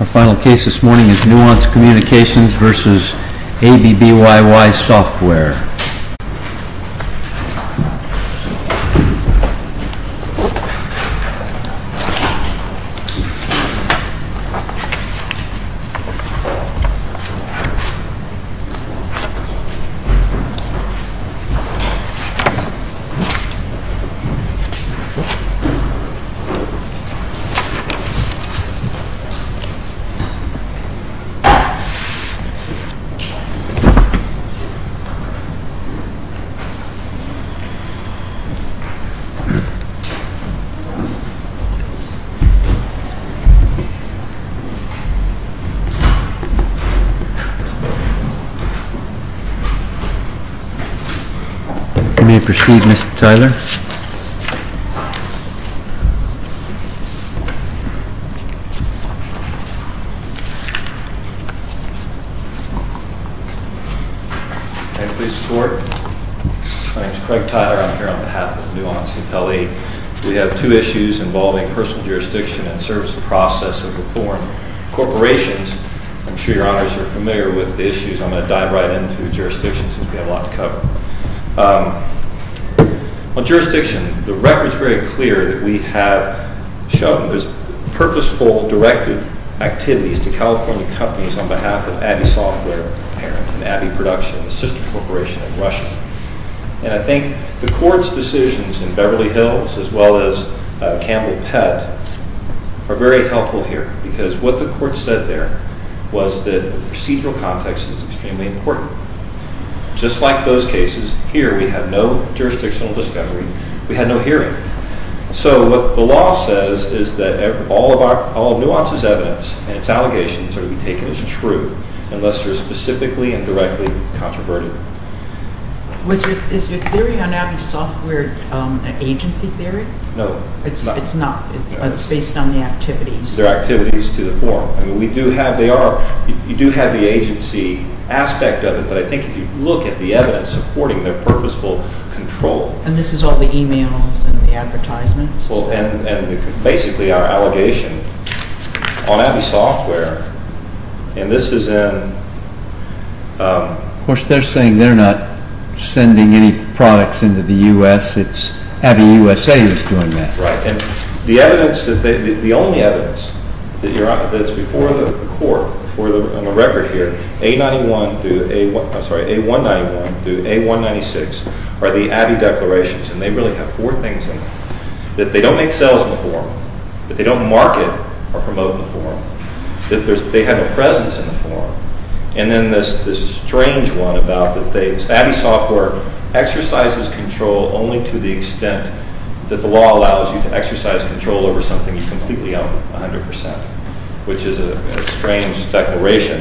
Our final case this morning is Nuance Communications versus ABBYY Software. May I proceed, Mr. Tyler? My name is Craig Tyler, I'm here on behalf of Nuance and Pelley. We have two issues involving personal jurisdiction and service process of reform. Corporations, I'm sure your honors are familiar with the issues. I'm going to dive right into jurisdiction since we have a lot to cover. On jurisdiction, the record is very clear that we have shown purposeful, directed activities to California companies on behalf of ABBYY Software and ABBYY Production, the sister corporation in Russia. And I think the court's decisions in Beverly Hills as well as Campbell-Pett are very helpful here because what the court said there was that the procedural context is extremely important. Just like those cases, here we have no jurisdictional discovery, we had no hearing. So what the law says is that all of Nuance's evidence and its allegations are to be taken as true unless they're specifically and directly controverted. Is your theory on ABBYY Software an agency theory? No. It's based on the activities? They're activities to the form. You do have the agency aspect of it, but I think if you look at the evidence supporting their purposeful control. And this is all the emails and the advertisements? And basically our allegation on ABBYY Software, and this is in... Of course, they're saying they're not sending any products into the U.S., it's ABBYY USA that's doing that. The only evidence that's before the court, on the record here, A191 through A196 are the ABBYY declarations. And they really have four things in them. That they don't make sales in the form, that they don't market or promote in the form, that they have a presence in the form, and then this strange one about that ABBYY Software exercises control only to the extent that the law allows you to exercise control over something you completely own 100%, which is a strange declaration.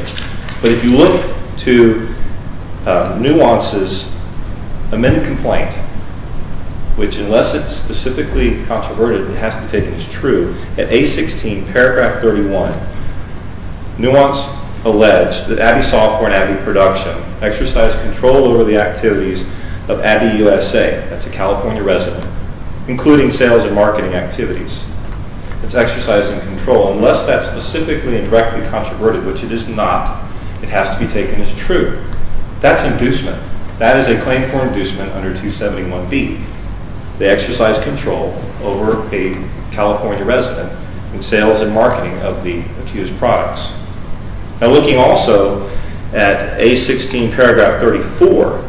But if you look to Nuance's amended complaint, which unless it's specifically controverted, it has to be taken as true, at A16, paragraph 31, Nuance alleged that ABBYY Software and ABBYY Production exercise control over the activities of ABBYY USA, that's a California resident, including sales and marketing activities. It's exercising control. Unless that's specifically and directly controverted, which it is not, it has to be taken as true. That's inducement. That is a claim for inducement under 271B. They exercise control over a California resident in sales and marketing of the accused products. Now looking also at A16, paragraph 34,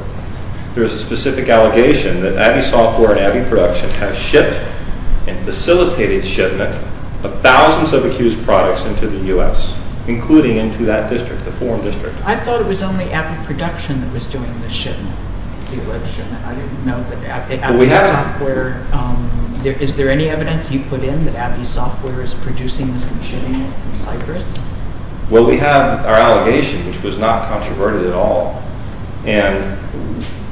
there's a specific allegation that ABBYY Software and ABBYY Production have shipped and facilitated shipment of thousands of accused products into the U.S., including into that district, the foreign district. I thought it was only ABBYY Production that was doing the shipment. I didn't know that ABBYY Software... Well, we have our allegation, which was not controverted at all, and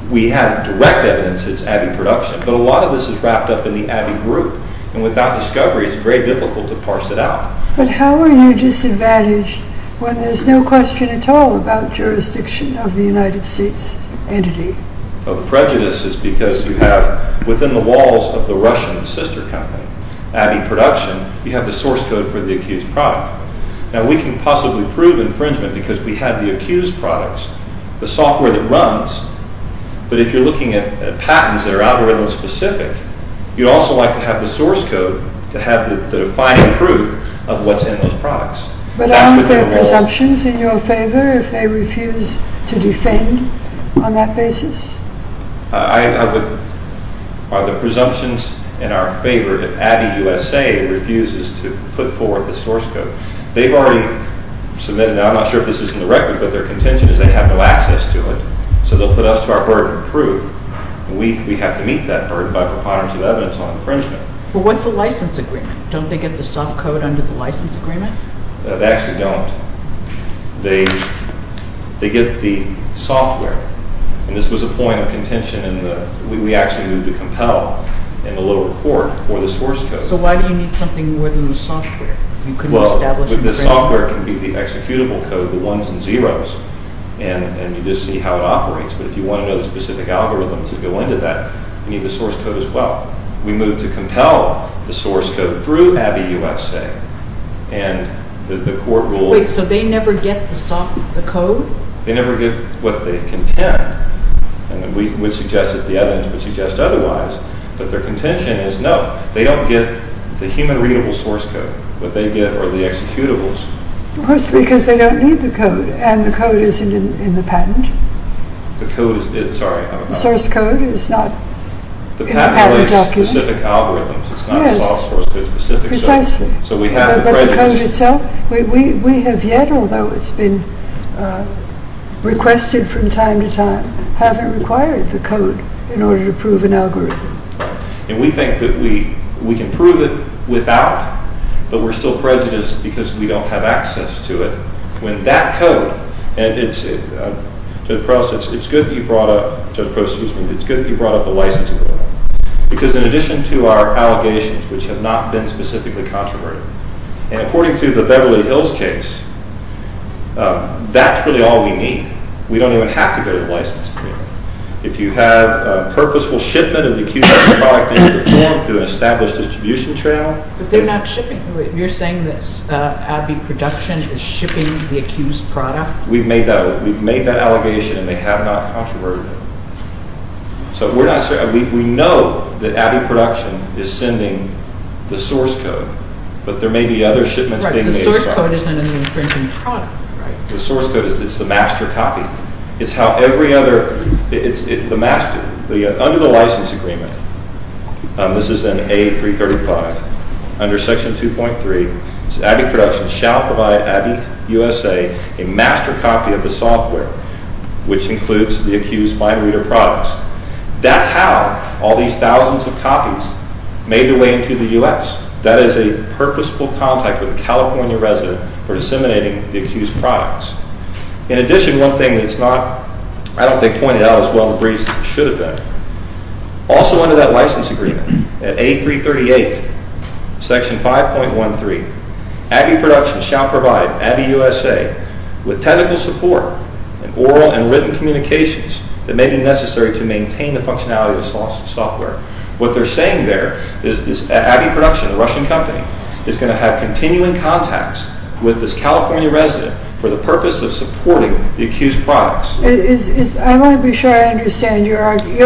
we have direct evidence that it's ABBYY Production, but a lot of this is wrapped up in the ABBYY group, and without discovery, it's very difficult to parse it out. But how are you disadvantaged when there's no question at all about jurisdiction of the United States entity? Well, the prejudice is because you have, within the walls of the Russian sister company, ABBYY Production, you have the source code for the accused product. Now we can possibly prove infringement because we have the accused products, the software that runs, but if you're looking at patents that are algorithm-specific, you'd also like to have the source code to have the defining proof of what's in those products. But aren't there presumptions in your favor if they refuse to defend on that basis? Are the presumptions in our favor if ABBYY USA refuses to put forward the source code? They've already submitted that. I'm not sure if this is in the record, but their contention is they have no access to it, so they'll put us to our burden of proof, and we have to meet that burden by preponderance of evidence on infringement. Well, what's a license agreement? Don't they get the soft code under the license agreement? No, they actually don't. They get the software, and this was a point of contention We actually moved to compel in the lower court for the source code. So why do you need something more than the software? Well, the software can be the executable code, the ones and zeros, and you just see how it operates, but if you want to know the specific algorithms that go into that, you need the source code as well. We moved to compel the source code through ABBYY USA, and the court ruled... Wait, so they never get the code? They never get what they contend. We would suggest that the evidence would suggest otherwise, but their contention is no, they don't get the human readable source code, what they get are the executables. Of course, because they don't need the code, and the code isn't in the patent. The code is, sorry, I'm about to... The source code is not in the patent document. The patent has specific algorithms, it's not soft source code specific, so we have the prejudice. But the code itself, we have yet, although it's been requested from time to time, haven't required the code in order to prove an algorithm. And we think that we can prove it without, but we're still prejudiced because we don't have access to it, when that code, and it's good that you brought up, Judge Prost, excuse me, it's good that you brought up the licensing law, because in addition to our allegations, which have not been specifically controversial, and according to the Beverly Hills case, that's really all we need. We don't even have to go to the license agreement. If you have a purposeful shipment of the accused product into the form through an established distribution channel... But they're not shipping... You're saying that Abby Production is shipping the accused product? We've made that allegation, and they have not controverted it. So we're not... We know that Abby Production is sending the source code, but there may be other shipments being made as well. The source code isn't an infringing product. The source code is the master copy. It's how every other... It's the master. Under the license agreement, this is in A335, under section 2.3, Abby Production shall provide Abby USA a master copy of the software, which includes the accused fine reader products. That's how all these thousands of copies made their way into the U.S. That is a purposeful contact with a California resident for disseminating the accused products. In addition, one thing that's not... I don't think pointed out as well in the brief as it should have been. Also under that license agreement, at A338, section 5.13, Abby Production shall provide Abby USA with technical support and oral and written communications that may be necessary to maintain the functionality of the software. What they're saying there is Abby Production, a Russian company, is going to have continuing contacts with this California resident for the purpose of supporting the accused products. I want to be sure I understand. Your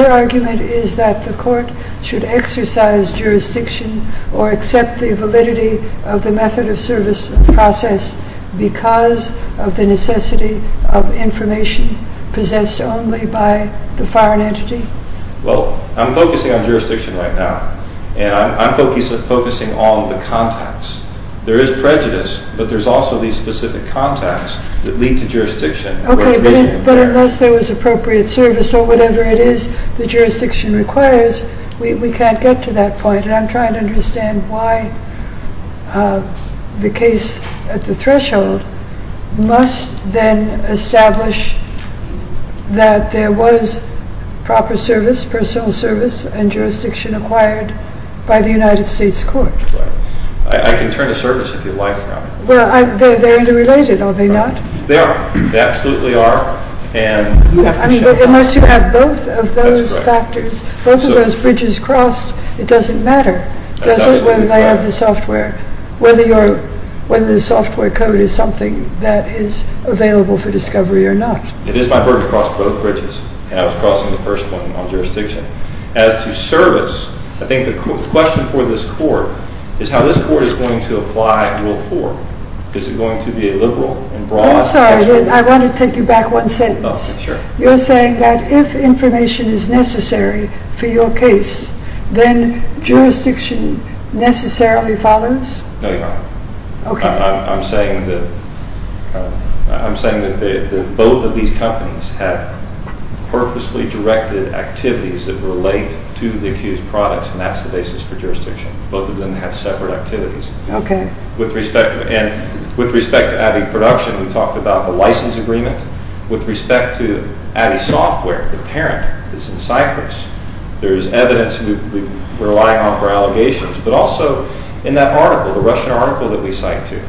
argument is that the court should exercise jurisdiction or accept the validity of the method of service process because of the necessity of information possessed only by the foreign entity? Well, I'm focusing on jurisdiction right now. And I'm focusing on the contacts. There is prejudice, but there's also these specific contacts that lead to jurisdiction. Okay, but unless there was appropriate service or whatever it is the jurisdiction requires, we can't get to that point. And I'm trying to understand why the case at the threshold must then establish that there was proper service, personal service and jurisdiction acquired by the United States court. I can turn to service if you like. Well, they're interrelated, are they not? They are. They absolutely are. Unless you have both of those factors, both of those bridges crossed, it doesn't matter, does it, whether they have the software, whether the software code is something that is available for discovery or not. It is my burden to cross both bridges, and I was crossing the first one on jurisdiction. As to service, I think the question for this court is how this court is going to apply Rule 4. Is it going to be a liberal and broad... I'm sorry, I want to take you back one sentence. Oh, sure. You're saying that if information is necessary for your case, then jurisdiction necessarily follows? No, Your Honor. Okay. I'm saying that both of these companies have purposely directed activities that relate to the accused products, and that's the basis for jurisdiction. Both of them have separate activities. Okay. With respect to Abbey Production, we talked about the license agreement. With respect to Abbey Software, the parent is in Cyprus. There is evidence we're relying on for allegations, but also in that article, the Russian article that we cite too,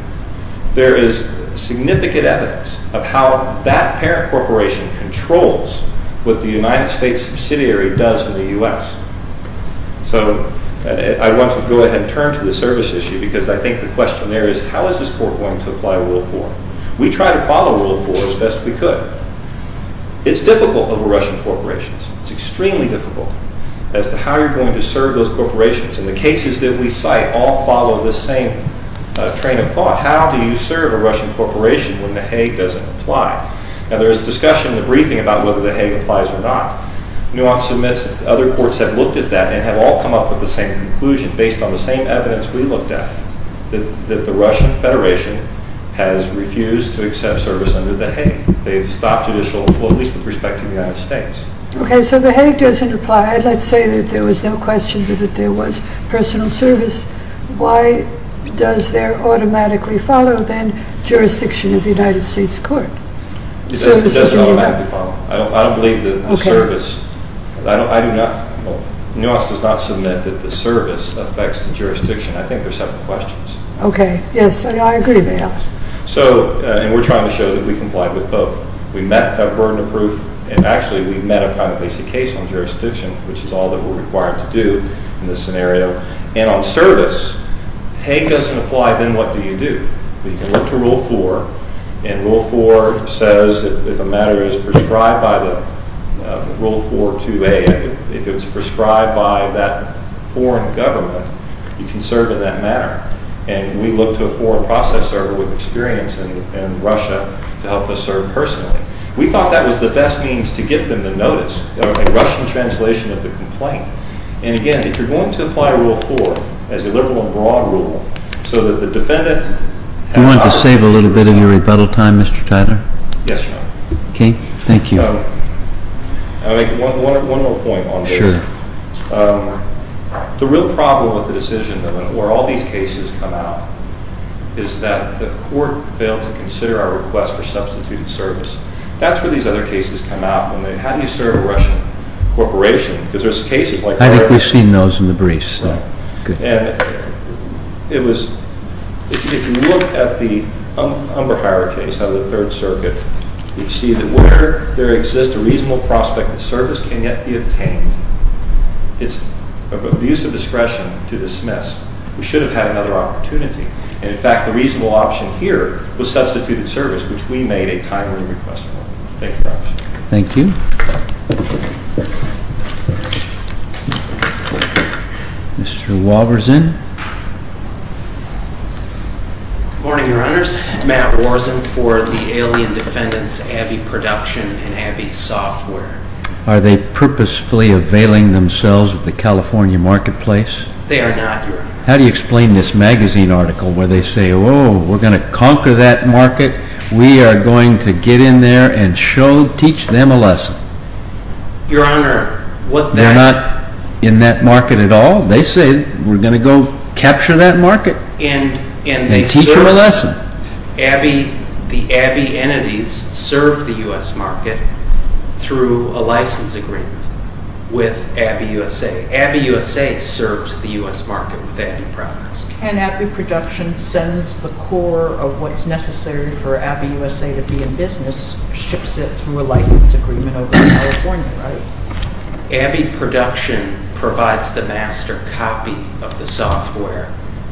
there is significant evidence of how that parent corporation controls what the United States subsidiary does in the U.S. So I want to go ahead and turn to the service issue because I think the question there is how is this court going to apply Rule 4? We tried to follow Rule 4 as best we could. It's difficult over Russian corporations. It's extremely difficult as to how you're going to serve those corporations, and the cases that we cite all follow the same train of thought. How do you serve a Russian corporation when the Hague doesn't apply? Now, there is discussion in the briefing about whether the Hague applies or not. Nuance submits that other courts have looked at that and have all come up with the same conclusion based on the same evidence we looked at, that the Russian Federation has refused to accept service under the Hague. They've stopped judicial... well, at least with respect to the United States. Okay, so the Hague doesn't apply. Let's say that there was no question that there was personal service. Why does there automatically follow, then, jurisdiction of the United States court? It doesn't automatically follow. I don't believe that the service... Nuance does not submit that the service affects the jurisdiction. I think there's several questions. Okay, yes, I agree with that. So, and we're trying to show that we complied with both. We met a burden of proof, and actually we met a private-basic case on jurisdiction, which is all that we're required to do in this scenario, and on service. Hague doesn't apply, then what do you do? You can look to Rule 4, and Rule 4 says if a matter is prescribed by the... Rule 4.2a, if it's prescribed by that foreign government, you can serve in that manner. And we looked to a foreign process server with experience in Russia to help us serve personally. We thought that was the best means to get them to notice. A Russian translation of the complaint. And again, if you're going to apply Rule 4 as a liberal and broad rule so that the defendant... You want to save a little bit of your rebuttal time, Mr. Tyler? Yes, Your Honor. Okay, thank you. I'll make one more point on this. Sure. The real problem with the decision, where all these cases come out, is that the court failed to consider our request for substituted service. That's where these other cases come out. How do you serve a Russian corporation? Because there's cases like... I think we've seen those in the briefs. Right. And it was... If you look at the umber hierarchy of the Third Circuit, you see that where there exists a reasonable prospect that service can yet be obtained, it's of abuse of discretion to dismiss. We should have had another opportunity. And in fact, the reasonable option here was substituted service, which we made a timely request for. Thank you, Your Honor. Thank you. Mr. Walberson. Good morning, Your Honors. Matt Walberson for the Alien Defendants Abbey Production and Abbey Software. Are they purposefully availing themselves of the California marketplace? They are not, Your Honor. How do you explain this magazine article where they say, oh, we're going to conquer that market, we are going to get in there and show, teach them a lesson? Your Honor, what... They're not in that market at all? They say, we're going to go capture that market. And... They teach them a lesson. Abbey, the Abbey entities serve the U.S. market through a license agreement with Abbey USA. Abbey USA serves the U.S. market with Abbey Products. And Abbey Production sends the core of what's necessary for Abbey USA to be in business, ships it through a license agreement over to California, right? Abbey Production provides the master copy of the software,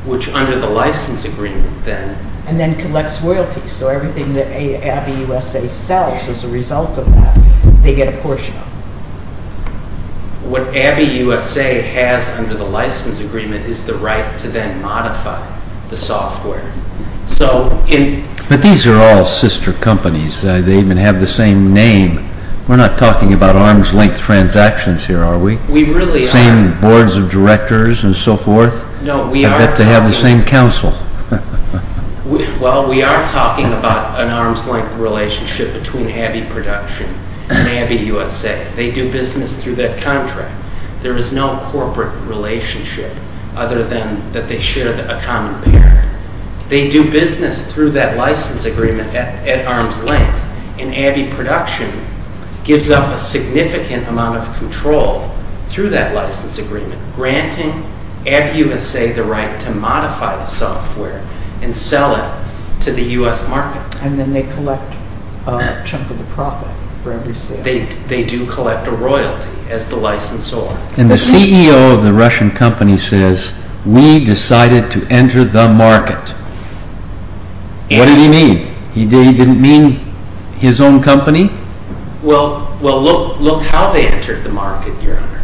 which under the license agreement then... And then collects royalties, so everything that Abbey USA sells as a result of that, they get a portion of. What Abbey USA has under the license agreement is the right to then modify the software. So in... But these are all sister companies. They even have the same name. We're not talking about arm's length transactions here, are we? We really aren't. Same boards of directors and so forth? No, we are talking... I bet they have the same counsel. Well, we are talking about an arm's length relationship between Abbey Production and Abbey USA. They do business through that contract. There is no corporate relationship other than that they share the economy. They do business through that license agreement at arm's length. And Abbey Production gives up a significant amount of control through that license agreement, granting Abbey USA the right to modify the software and sell it to the U.S. market. And then they collect a chunk of the profit for every sale. They do collect a royalty as the licensor. And the CEO of the Russian company says, we decided to enter the market. What did he mean? He didn't mean his own company? Well, look how they entered the market, Your Honor.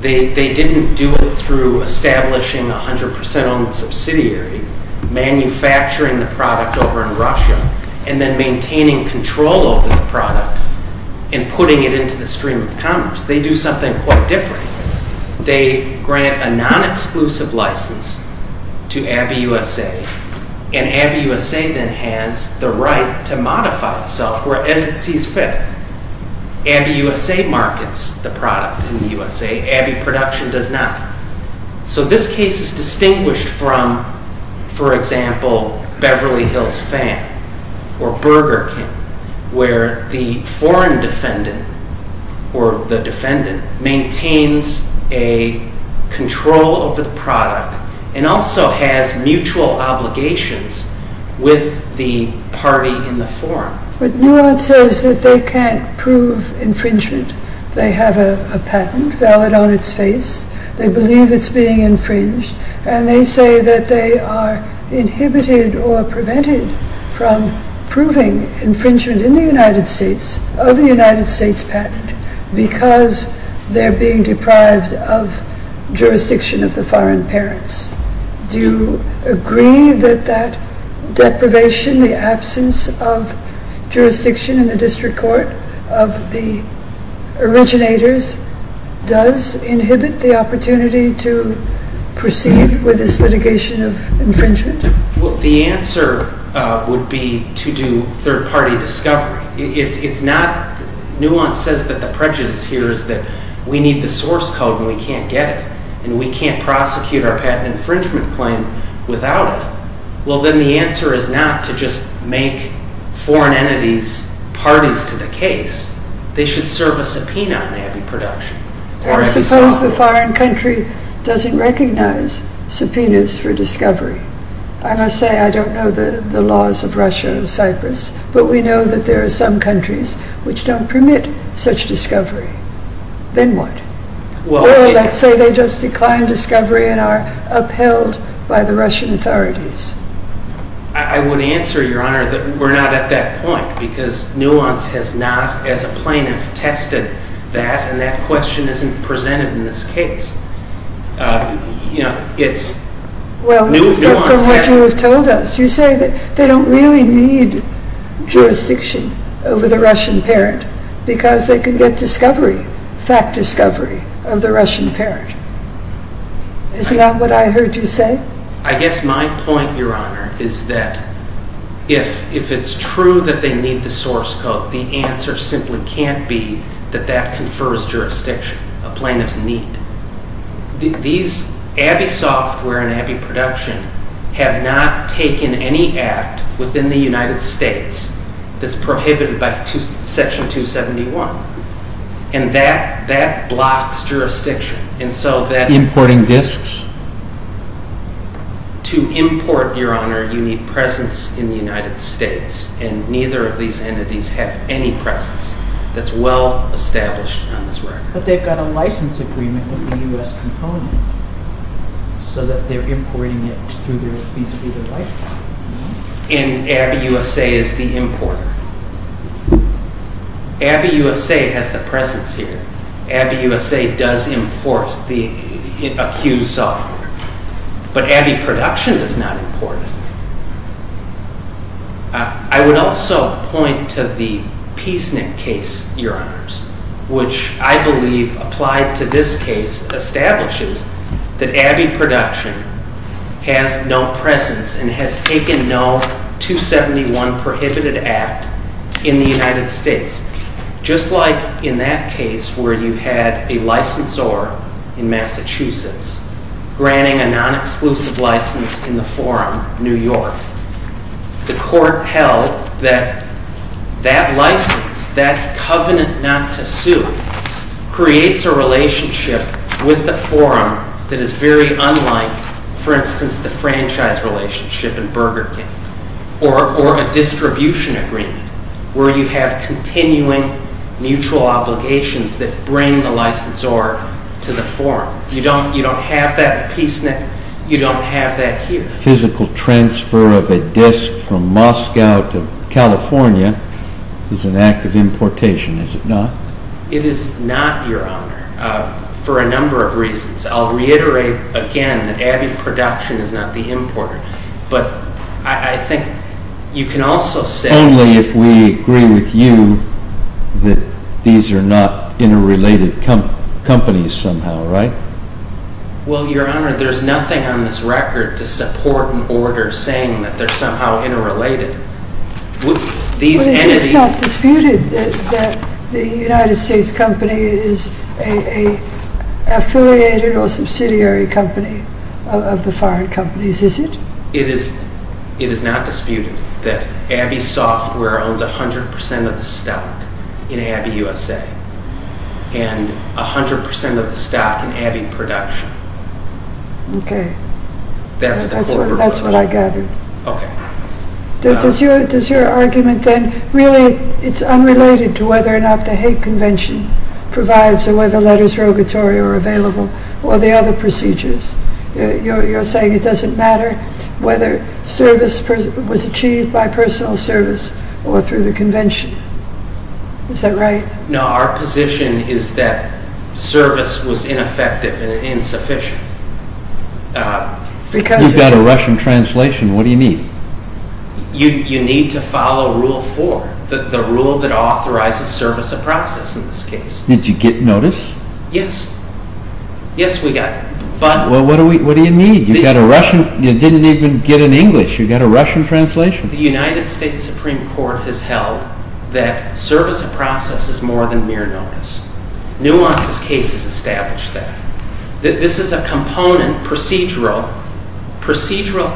They didn't do it through establishing a 100% owned subsidiary, manufacturing the product over in Russia, and then maintaining control over the product and putting it into the stream of commerce. They do something quite different. They grant a non-exclusive license to Abbey USA, and Abbey USA then has the right to modify the software as it sees fit. Abbey USA markets the product in the USA. Abbey Production does not. So this case is distinguished from, for example, Beverly Hills Fan or Burger King, where the foreign defendant or the defendant maintains a control over the product and also has mutual obligations with the party in the forum. But now it says that they can't prove infringement. They have a patent valid on its face. They believe it's being infringed. And they say that they are inhibited or prevented from proving infringement in the United States, of the United States patent, because they're being deprived of jurisdiction of the foreign parents. Do you agree that that deprivation, the absence of jurisdiction in the district court of the originators does inhibit the opportunity to proceed with this litigation of infringement? Well, the answer would be to do third-party discovery. Nuance says that the prejudice here is that we need the source code and we can't get it, and we can't prosecute our patent infringement claim without it. Well, then the answer is not to just make foreign entities parties to the case. They should serve a subpoena on Abbey Production. I suppose the foreign country doesn't recognize subpoenas for discovery. I must say I don't know the laws of Russia and Cyprus, but we know that there are some countries which don't permit such discovery. Then what? Well, let's say they just decline discovery and are upheld by the Russian authorities. I would answer, Your Honor, that we're not at that point, because Nuance has not, as a plaintiff, tested that, and that question isn't presented in this case. You know, it's... Well, from what you have told us, you say that they don't really need jurisdiction over the Russian parent because they can get discovery, fact discovery, of the Russian parent. Isn't that what I heard you say? I guess my point, Your Honor, is that if it's true that they need the source code, the answer simply can't be that that confers jurisdiction, a plaintiff's need. These... Abbey Software and Abbey Production have not taken any act within the United States that's prohibited by Section 271, and that blocks jurisdiction, and so that... Importing disks? To import, Your Honor, you need presence in the United States, and neither of these entities have any presence that's well-established on this record. But they've got a license agreement with the U.S. component so that they're importing it through their... And Abbey USA is the importer. Abbey USA has the presence here. Abbey USA does import the accused software, but Abbey Production does not import it. I would also point to the Peacenet case, Your Honors, which I believe, applied to this case, establishes that Abbey Production has no presence and has taken no 271 prohibited act in the United States. Just like in that case where you had a licensor in Massachusetts granting a non-exclusive license in the forum New York, the court held that that license, that covenant not to sue, creates a relationship with the forum that is very unlike, for instance, the franchise relationship in Burger King or a distribution agreement where you have continuing mutual obligations that bring the licensor to the forum. You don't have that at Peacenet. You don't have that here. The physical transfer of a disk from Moscow is an act of importation, is it not? It is not, Your Honor, for a number of reasons, I'll reiterate again that Abbey Production is not the importer, but I think you can also say... Only if we agree with you that these are not interrelated companies somehow, right? Well, Your Honor, there's nothing on this record to support an order saying that they're somehow interrelated. These entities... But it is not disputed that the United States company is an affiliated or subsidiary company of the foreign companies, is it? It is not disputed that Abbey Software owns 100% of the stock in Abbey USA and 100% of the stock in Abbey Production. Okay. That's what I gather. Okay. Does your argument then... Really, it's unrelated to whether or not the Hague Convention provides or whether letters rogatory are available or the other procedures. You're saying it doesn't matter whether service was achieved by personal service or through the convention. Is that right? No, our position is that service was ineffective and insufficient. You've got a Russian translation. What do you need? You need to follow Rule 4, the rule that authorizes service of process in this case. Did you get notice? Yes. Yes, we got it. Well, what do you need? You didn't even get an English. You got a Russian translation. The United States Supreme Court has held that service of process is more than mere notice. Nuance's case has established that. This is a component, procedural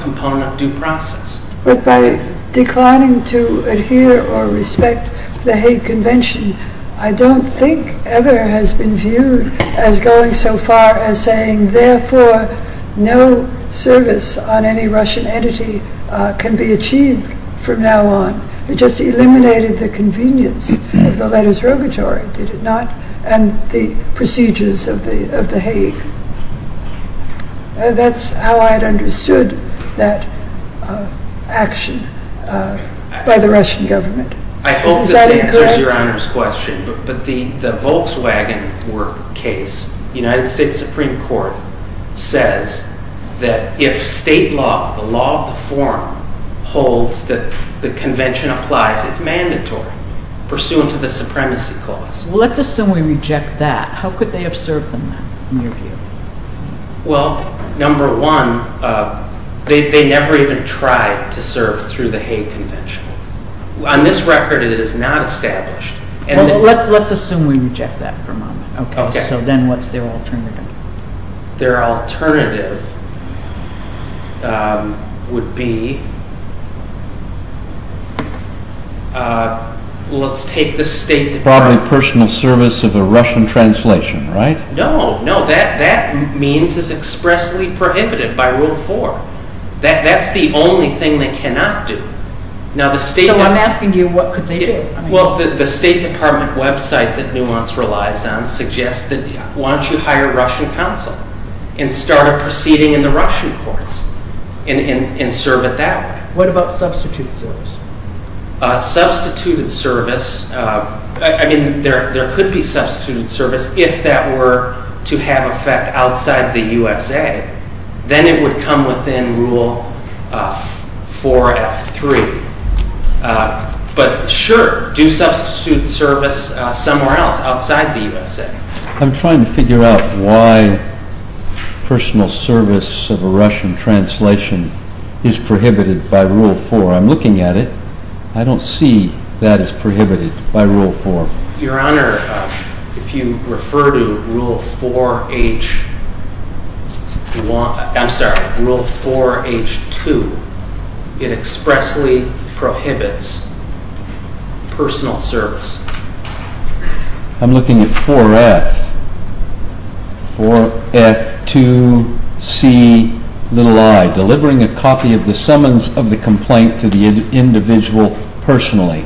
component of due process. But by declining to adhere or respect the Hague Convention, I don't think ever has been viewed as going so far as saying therefore no service on any Russian entity can be achieved from now on. It just eliminated the convenience of the letters rogatory, did it not? And the procedures of the Hague. That's how I'd understood that action by the Russian government. I hope this answers Your Honor's question. But the Volkswagen case, the United States Supreme Court says that if state law, the law of the forum, holds that the convention applies, it's mandatory, pursuant to the Supremacy Clause. Let's assume we reject that. How could they have served in that, in your view? Well, number one, they never even tried to serve through the Hague Convention. On this record, it is not established. Well, let's assume we reject that for a moment. Okay. So then what's their alternative? Their alternative would be let's take the State Department. Probably personal service of a Russian translation, right? No, no. That means it's expressly prohibited by Rule 4. That's the only thing they cannot do. So I'm asking you, what could they do? Well, the State Department website that Nuance relies on suggests that why don't you hire a Russian counsel and start a proceeding in the Russian courts and serve it that way. What about substituted service? Substituted service, I mean, there could be substituted service if that were to have effect outside the USA. Then it would come within Rule 4F3. But sure, do substitute service somewhere else outside the USA. I'm trying to figure out why personal service of a Russian translation is prohibited by Rule 4. I'm looking at it. I don't see that it's prohibited by Rule 4. Your Honor, if you refer to Rule 4H, I'm sorry, Rule 4H2, it expressly prohibits personal service. I'm looking at 4F. 4F2Ci, delivering a copy of the summons of the complaint to the individual personally.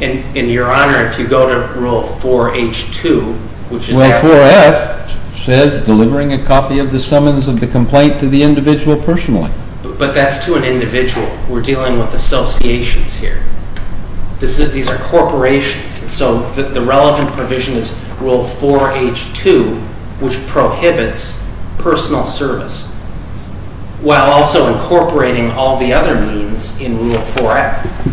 And, Your Honor, if you go to Rule 4H2, Rule 4F says delivering a copy of the summons of the complaint to the individual personally. But that's to an individual. We're dealing with associations here. These are corporations. So the relevant provision is Rule 4H2, which prohibits personal service while also incorporating all the other means in Rule 4F.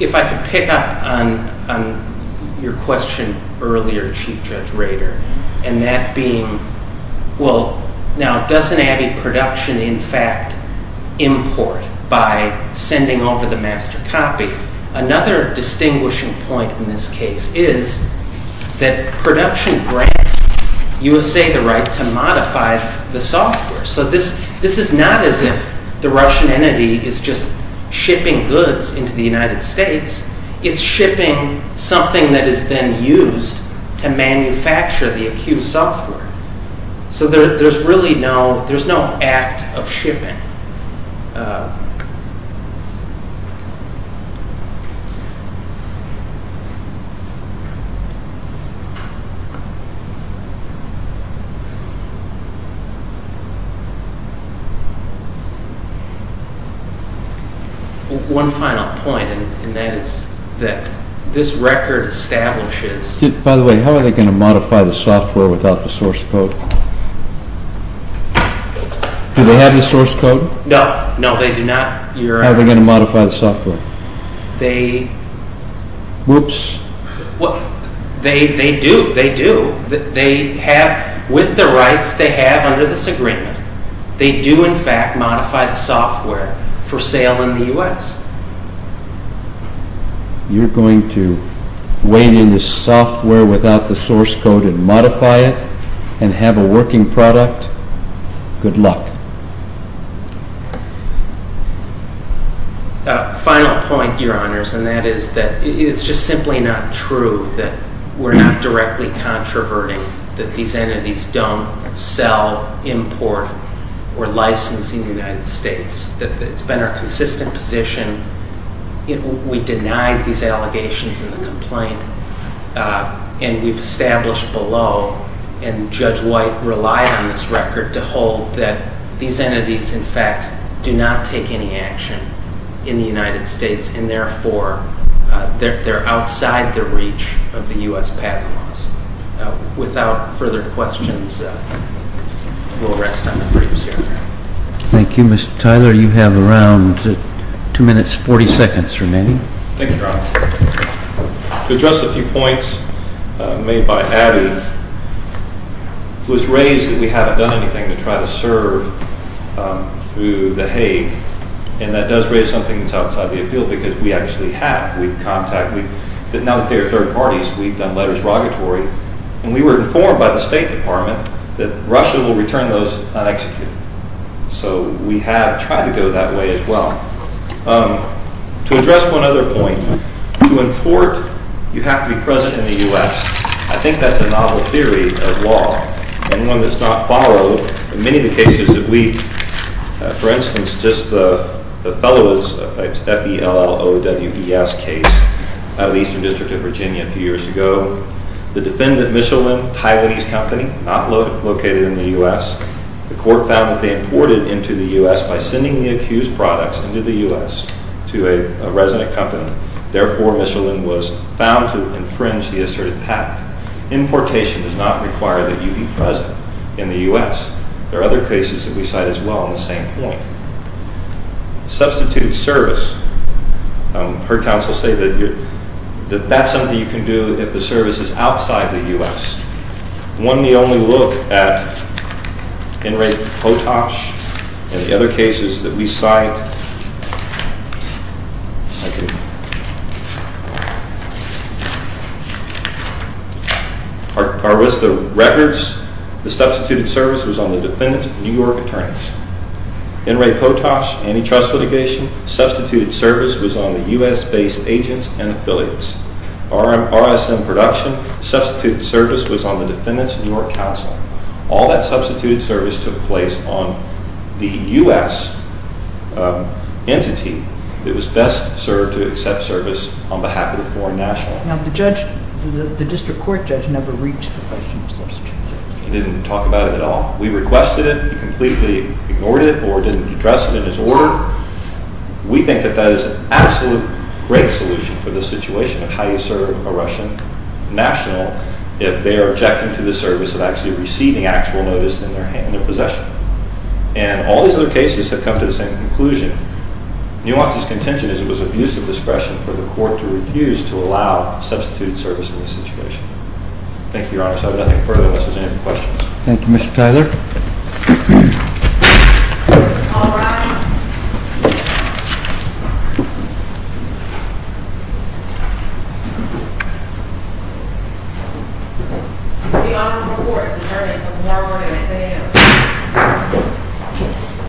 If I could pick up on your question earlier, Chief Judge Rader, and that being, well, now, doesn't Abbey Production in fact import by sending over the master copy? Another distinguishing point in this case is that Production grants USA the right to modify the software. So this is not as if the Russian entity is just shipping goods into the United States. It's shipping something that is then used to manufacture the accused software. So there's really no, there's no act of shipping. One final point, and that is that this record establishes... By the way, how are they going to modify the software without the source code? Do they have the source code? No. No, they do not. How are they going to modify the software? They... Whoops. They do. They have, with the rights they have under this agreement, they do in fact modify the software for sale in the U.S. You're going to weigh in the software without the source code and modify it and have a working product? Good luck. Final point, Your Honors, and that is that it's just simply not true that we're not directly controverting that these entities don't sell, import, or license in the United States. It's been our consistent position. We denied these allegations in the complaint, and we've established below, and Judge White relied on this record to hold that these entities in fact do not take any action in the United States, and therefore they're outside the reach of the U.S. patent laws. Without further questions, we'll rest on the briefs here. Thank you. Mr. Tyler, you have around 2 minutes 40 seconds remaining. Thank you, Your Honor. To address the few points made by Abby, it was raised that we haven't done anything to try to serve through the Hague, and that does raise something that's outside the appeal because we actually have. We've contacted, now that they are third parties, we've done letters of rogatory, and we were informed by the State Department that Russia will return those unexecuted. So we have tried to go that way as well. To address one other point, to import, you have to be present in the U.S. I think that's a novel theory of law, and one that's not followed in many of the cases that we, for instance, just the fellows, F-E-L-L-O-W-E-S case out of the Eastern District of Virginia a few years ago, the defendant Michelin, a Taiwanese company, not located in the U.S., the court found that they imported into the U.S. by sending the accused products into the U.S. to a resident company. Therefore, Michelin was found to infringe the asserted patent. Importation does not require that you be present in the U.S. There are other cases that we cite as well on the same point. Substitute service. Her counsel said that that's something you can do if the service is outside the U.S. One may only look at In re Potash and the other cases that we cite. Our list of records, the substituted service was on the defendant, New York attorneys. In re Potash, antitrust litigation, substituted service was on the U.S.-based agents and affiliates. RSM production, substituted service was on the defendant's New York counsel. All that substituted service took place on the U.S. entity that was best served to accept service on behalf of the foreign national. Now the judge, the district court judge, never reached the question of substitute service. He didn't talk about it at all. We requested it. He completely ignored it or didn't address it in his order. We think that that is an absolute great solution for the situation of how you serve a Russian national if they are objecting to the service of actually receiving actual notice in their possession. And all these other cases have come to the same conclusion. Nuance's contention is it was abuse of discretion for the court to refuse to allow substituted service in this situation. Thank you, Your Honor. So I have nothing further unless there's any questions. Thank you, Mr. Tyler. All rise. The Honorable Court has adjourned until tomorrow morning at 10 a.m.